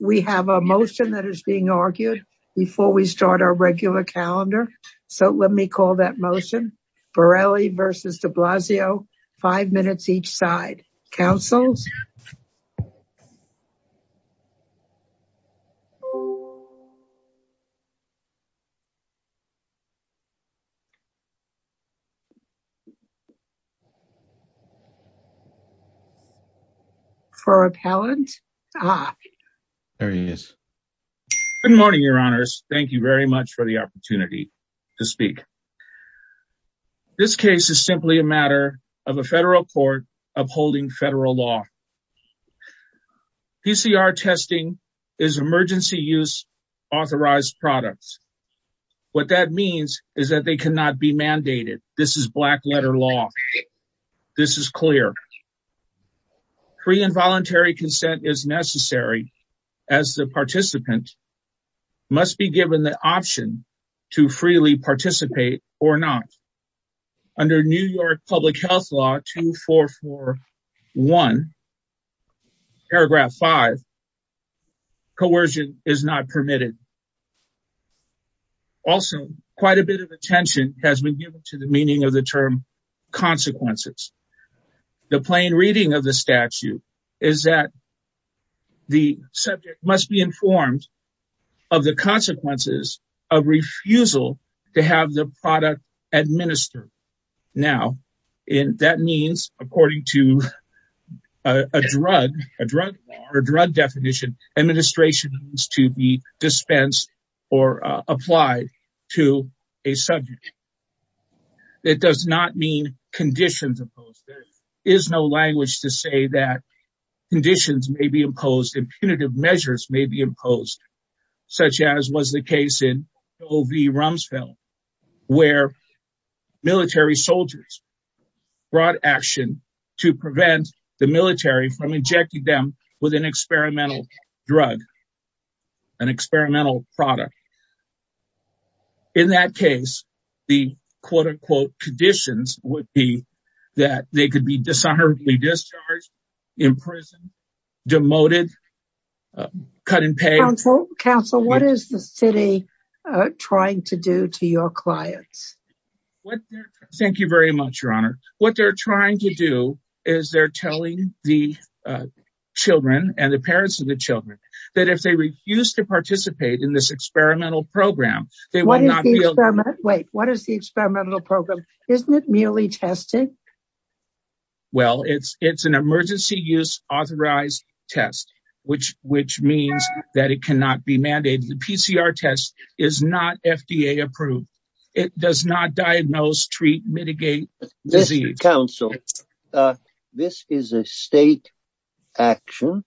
We have a motion that is being argued before we start our regular calendar, so let me call that motion. Borrelli versus de Blasio, five minutes each side. Councils? Good morning, your honors. Thank you very much for the opportunity to speak. This case is simply a matter of a federal court upholding federal law. PCR testing is emergency use authorized products. What that means is that they cannot be mandated. This is black letter law. This is clear. Free and voluntary consent is necessary as the participant must be given the option to freely participate or not. Under New York Public Health Law 2441, paragraph five, coercion is not permitted. Also, quite a bit of attention has been given to the meaning of the term consequences. The plain reading of the statute is that the subject must be informed of the consequences of refusal to have the product administered. Now, that means, according to a drug definition, administration needs to be dispensed or applied to a subject. It does not mean conditions imposed. There is no language to say that conditions may be imposed and punitive measures may be imposed, such as was the case in O. V. Rumsfeld, where military soldiers brought action to prevent the military from injecting them with an experimental drug, an experimental product. In that case, the quote-unquote conditions would be that they could be dishonorably discharged, imprisoned, demoted, cut in pay. Counsel, what is the city trying to do to your clients? Thank you very much, Your Honor. What they're trying to do is they're telling the children and the parents of the children that if they refuse to participate in this experimental program, they will not be able to- What is the experimental program? Isn't it merely testing? Well, it's an emergency use authorized test, which means that it cannot be mandated. The PCR test is not FDA approved. It does not diagnose, treat, mitigate disease. Counsel, this is a state action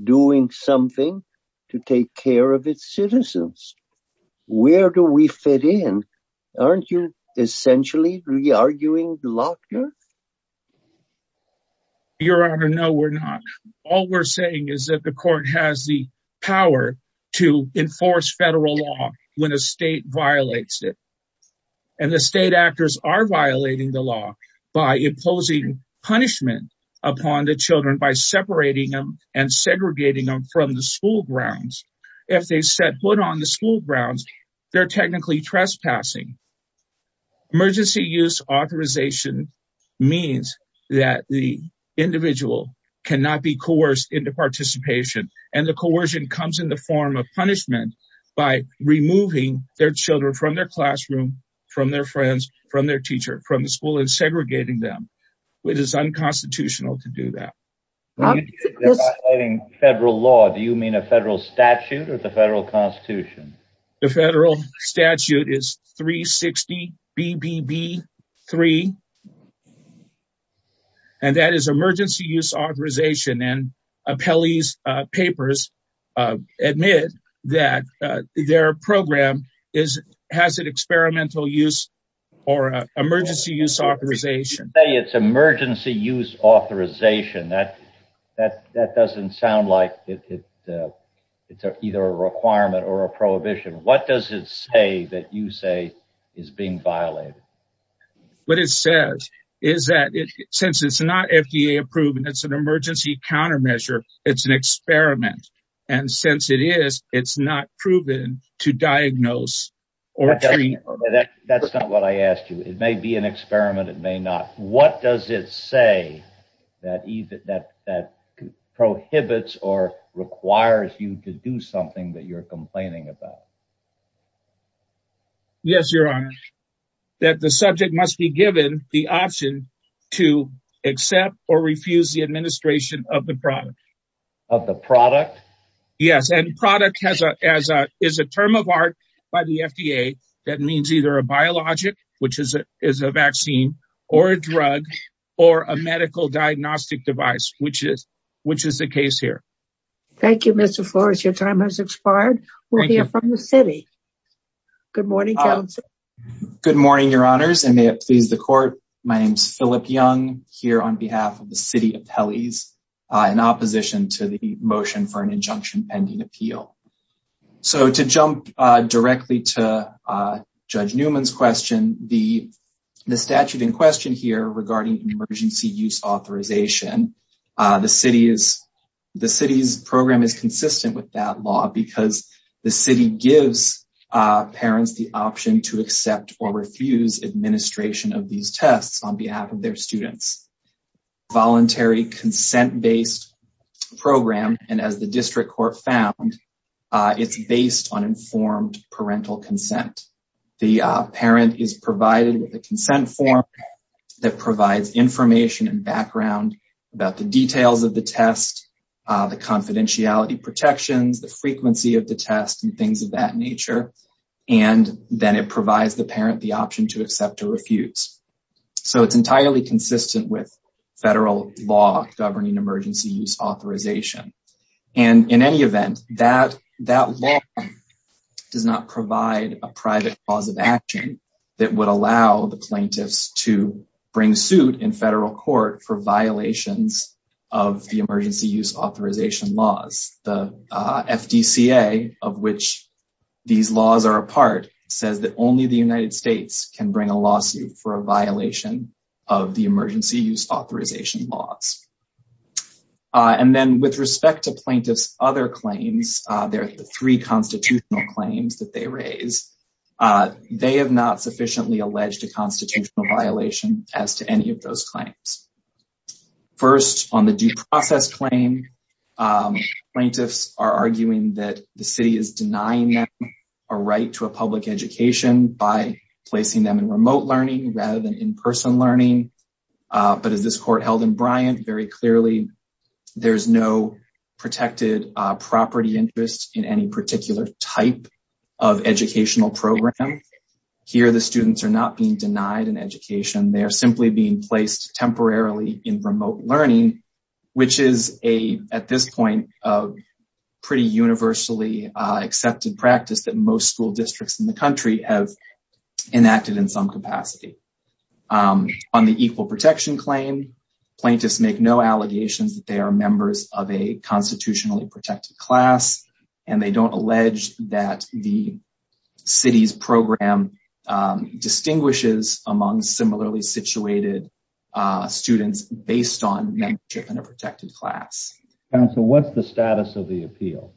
doing something to take care of its citizens. Where do we fit in? Aren't you essentially re-arguing the law? Your Honor, no, we're not. All we're saying is that the court has the power to enforce federal law when a state violates it. The state actors are violating the law by imposing punishment upon the children by separating them and segregating them from the school grounds. If they set foot on the school grounds, they're technically trespassing. Emergency use authorization means that the individual cannot be coerced into participation. The coercion comes in the form of punishment by removing their children from their classroom, from their friends, from their teacher, from the school and segregating them. It is unconstitutional to do that. When you say they're violating federal law, do you mean a federal statute or the federal constitution? The federal statute is 360 BBB 3, and that is emergency use authorization. Appellee's papers admit that their program has an experimental use or emergency use authorization. It's emergency use authorization. That doesn't sound like it's either a requirement or a prohibition. What does it say that you say is being violated? What it says is that since it's not FDA approved and it's an emergency countermeasure, it's an experiment. And since it is, it's not proven to diagnose or treat. That's not what I asked you. It may be an what does it say that prohibits or requires you to do something that you're complaining about? Yes, your honor, that the subject must be given the option to accept or refuse the administration of the product. Of the product? Yes. And product is a term of art by the FDA that means either a biologic, which is a, is a vaccine or a drug or a medical diagnostic device, which is, which is the case here. Thank you, Mr. Flores. Your time has expired. We'll hear from the city. Good morning. Good morning, your honors, and may it please the court. My name's Philip Young here on behalf of the city of Pelley's in opposition to the judge Newman's question, the, the statute in question here regarding emergency use authorization. The city is the city's program is consistent with that law because the city gives parents the option to accept or refuse administration of these tests on behalf of their students. Voluntary consent based program. And as the district court found it's based on informed parental consent. The parent is provided with a consent form that provides information and background about the details of the test, the confidentiality protections, the frequency of the test and things of that nature. And then it provides the parent the option to accept or refuse. So it's entirely consistent with federal law governing emergency use authorization. And in any event, that that law does not provide a private cause of action that would allow the plaintiffs to bring suit in federal court for violations of the emergency use authorization laws. The FDCA of which these laws are a part says that only the United States can bring a lawsuit for a violation of the emergency use authorization laws. And then with respect to plaintiff's other claims, there are the three constitutional claims that they raise. They have not sufficiently alleged a constitutional violation as to any of those claims. First on the due process claim, plaintiffs are arguing that the city is denying them a right to a public education by placing them in remote learning rather than in-person learning. But as this court held in Bryant, very clearly, there's no protected property interest in any particular type of educational program. Here, the students are not being denied an education. They are simply being placed temporarily in remote learning, which is a, at this point, pretty universally accepted practice that most school districts in the country have enacted in some capacity. On the equal protection claim, plaintiffs make no allegations that they are members of a constitutionally protected class, and they don't allege that the city's program distinguishes among similarly situated students based on membership in a protected class. Counsel, what's the status of the appeal?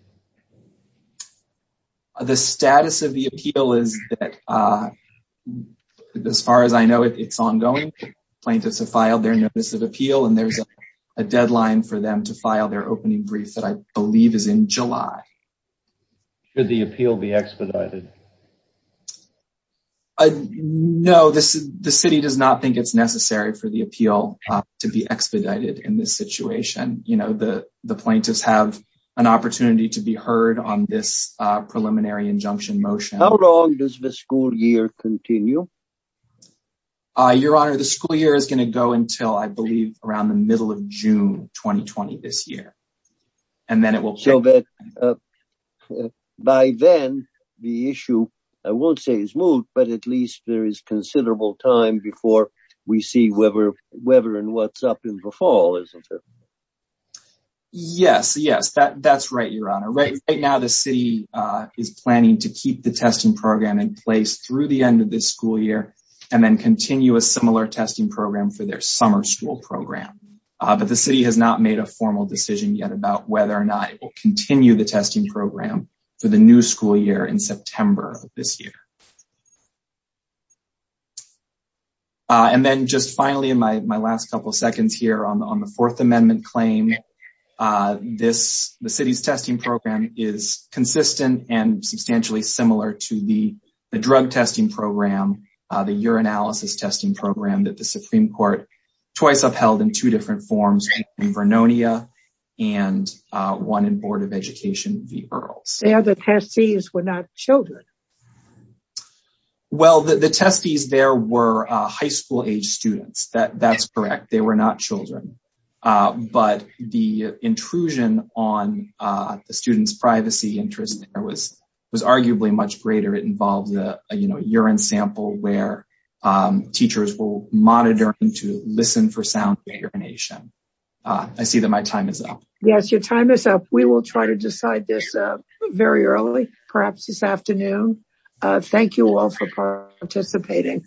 The status of the appeal is that, as far as I know, it's ongoing. Plaintiffs have filed their notice of appeal, and there's a deadline for them to file their opening brief that I believe is in July. Should the appeal be expedited? No, the city does not think it's necessary for the appeal to be expedited in this situation. You know, the plaintiffs have an opportunity to file their hearing on this preliminary injunction motion. How long does the school year continue? Your Honor, the school year is going to go until, I believe, around the middle of June 2020 this year, and then it will... So, by then, the issue, I won't say is moved, but at least there is considerable time before we see whether and what's up in the fall, isn't it? Yes, yes, that's right, Your Honor. Right now, the city is planning to keep the testing program in place through the end of this school year, and then continue a similar testing program for their summer school program. But the city has not made a formal decision yet about whether or not it will continue the testing program for the new school year in September of this year. And then, just finally, in my last couple of seconds here, on the Fourth Amendment claim, the city's testing program is consistent and substantially similar to the drug testing program, the urinalysis testing program that the Supreme Court twice upheld in two different forms, in Vernonia and one in Board of Education v. Earls. The other testees were not children. Well, the testees there were high school-age students. That's correct. They were not children. But the intrusion on the students' privacy interest there was arguably much greater. It involved a urine sample where teachers will monitor them to listen for sound urination. I see that my time is up. Your time is up. We will try to decide this very early, perhaps this afternoon. Thank you all for participating.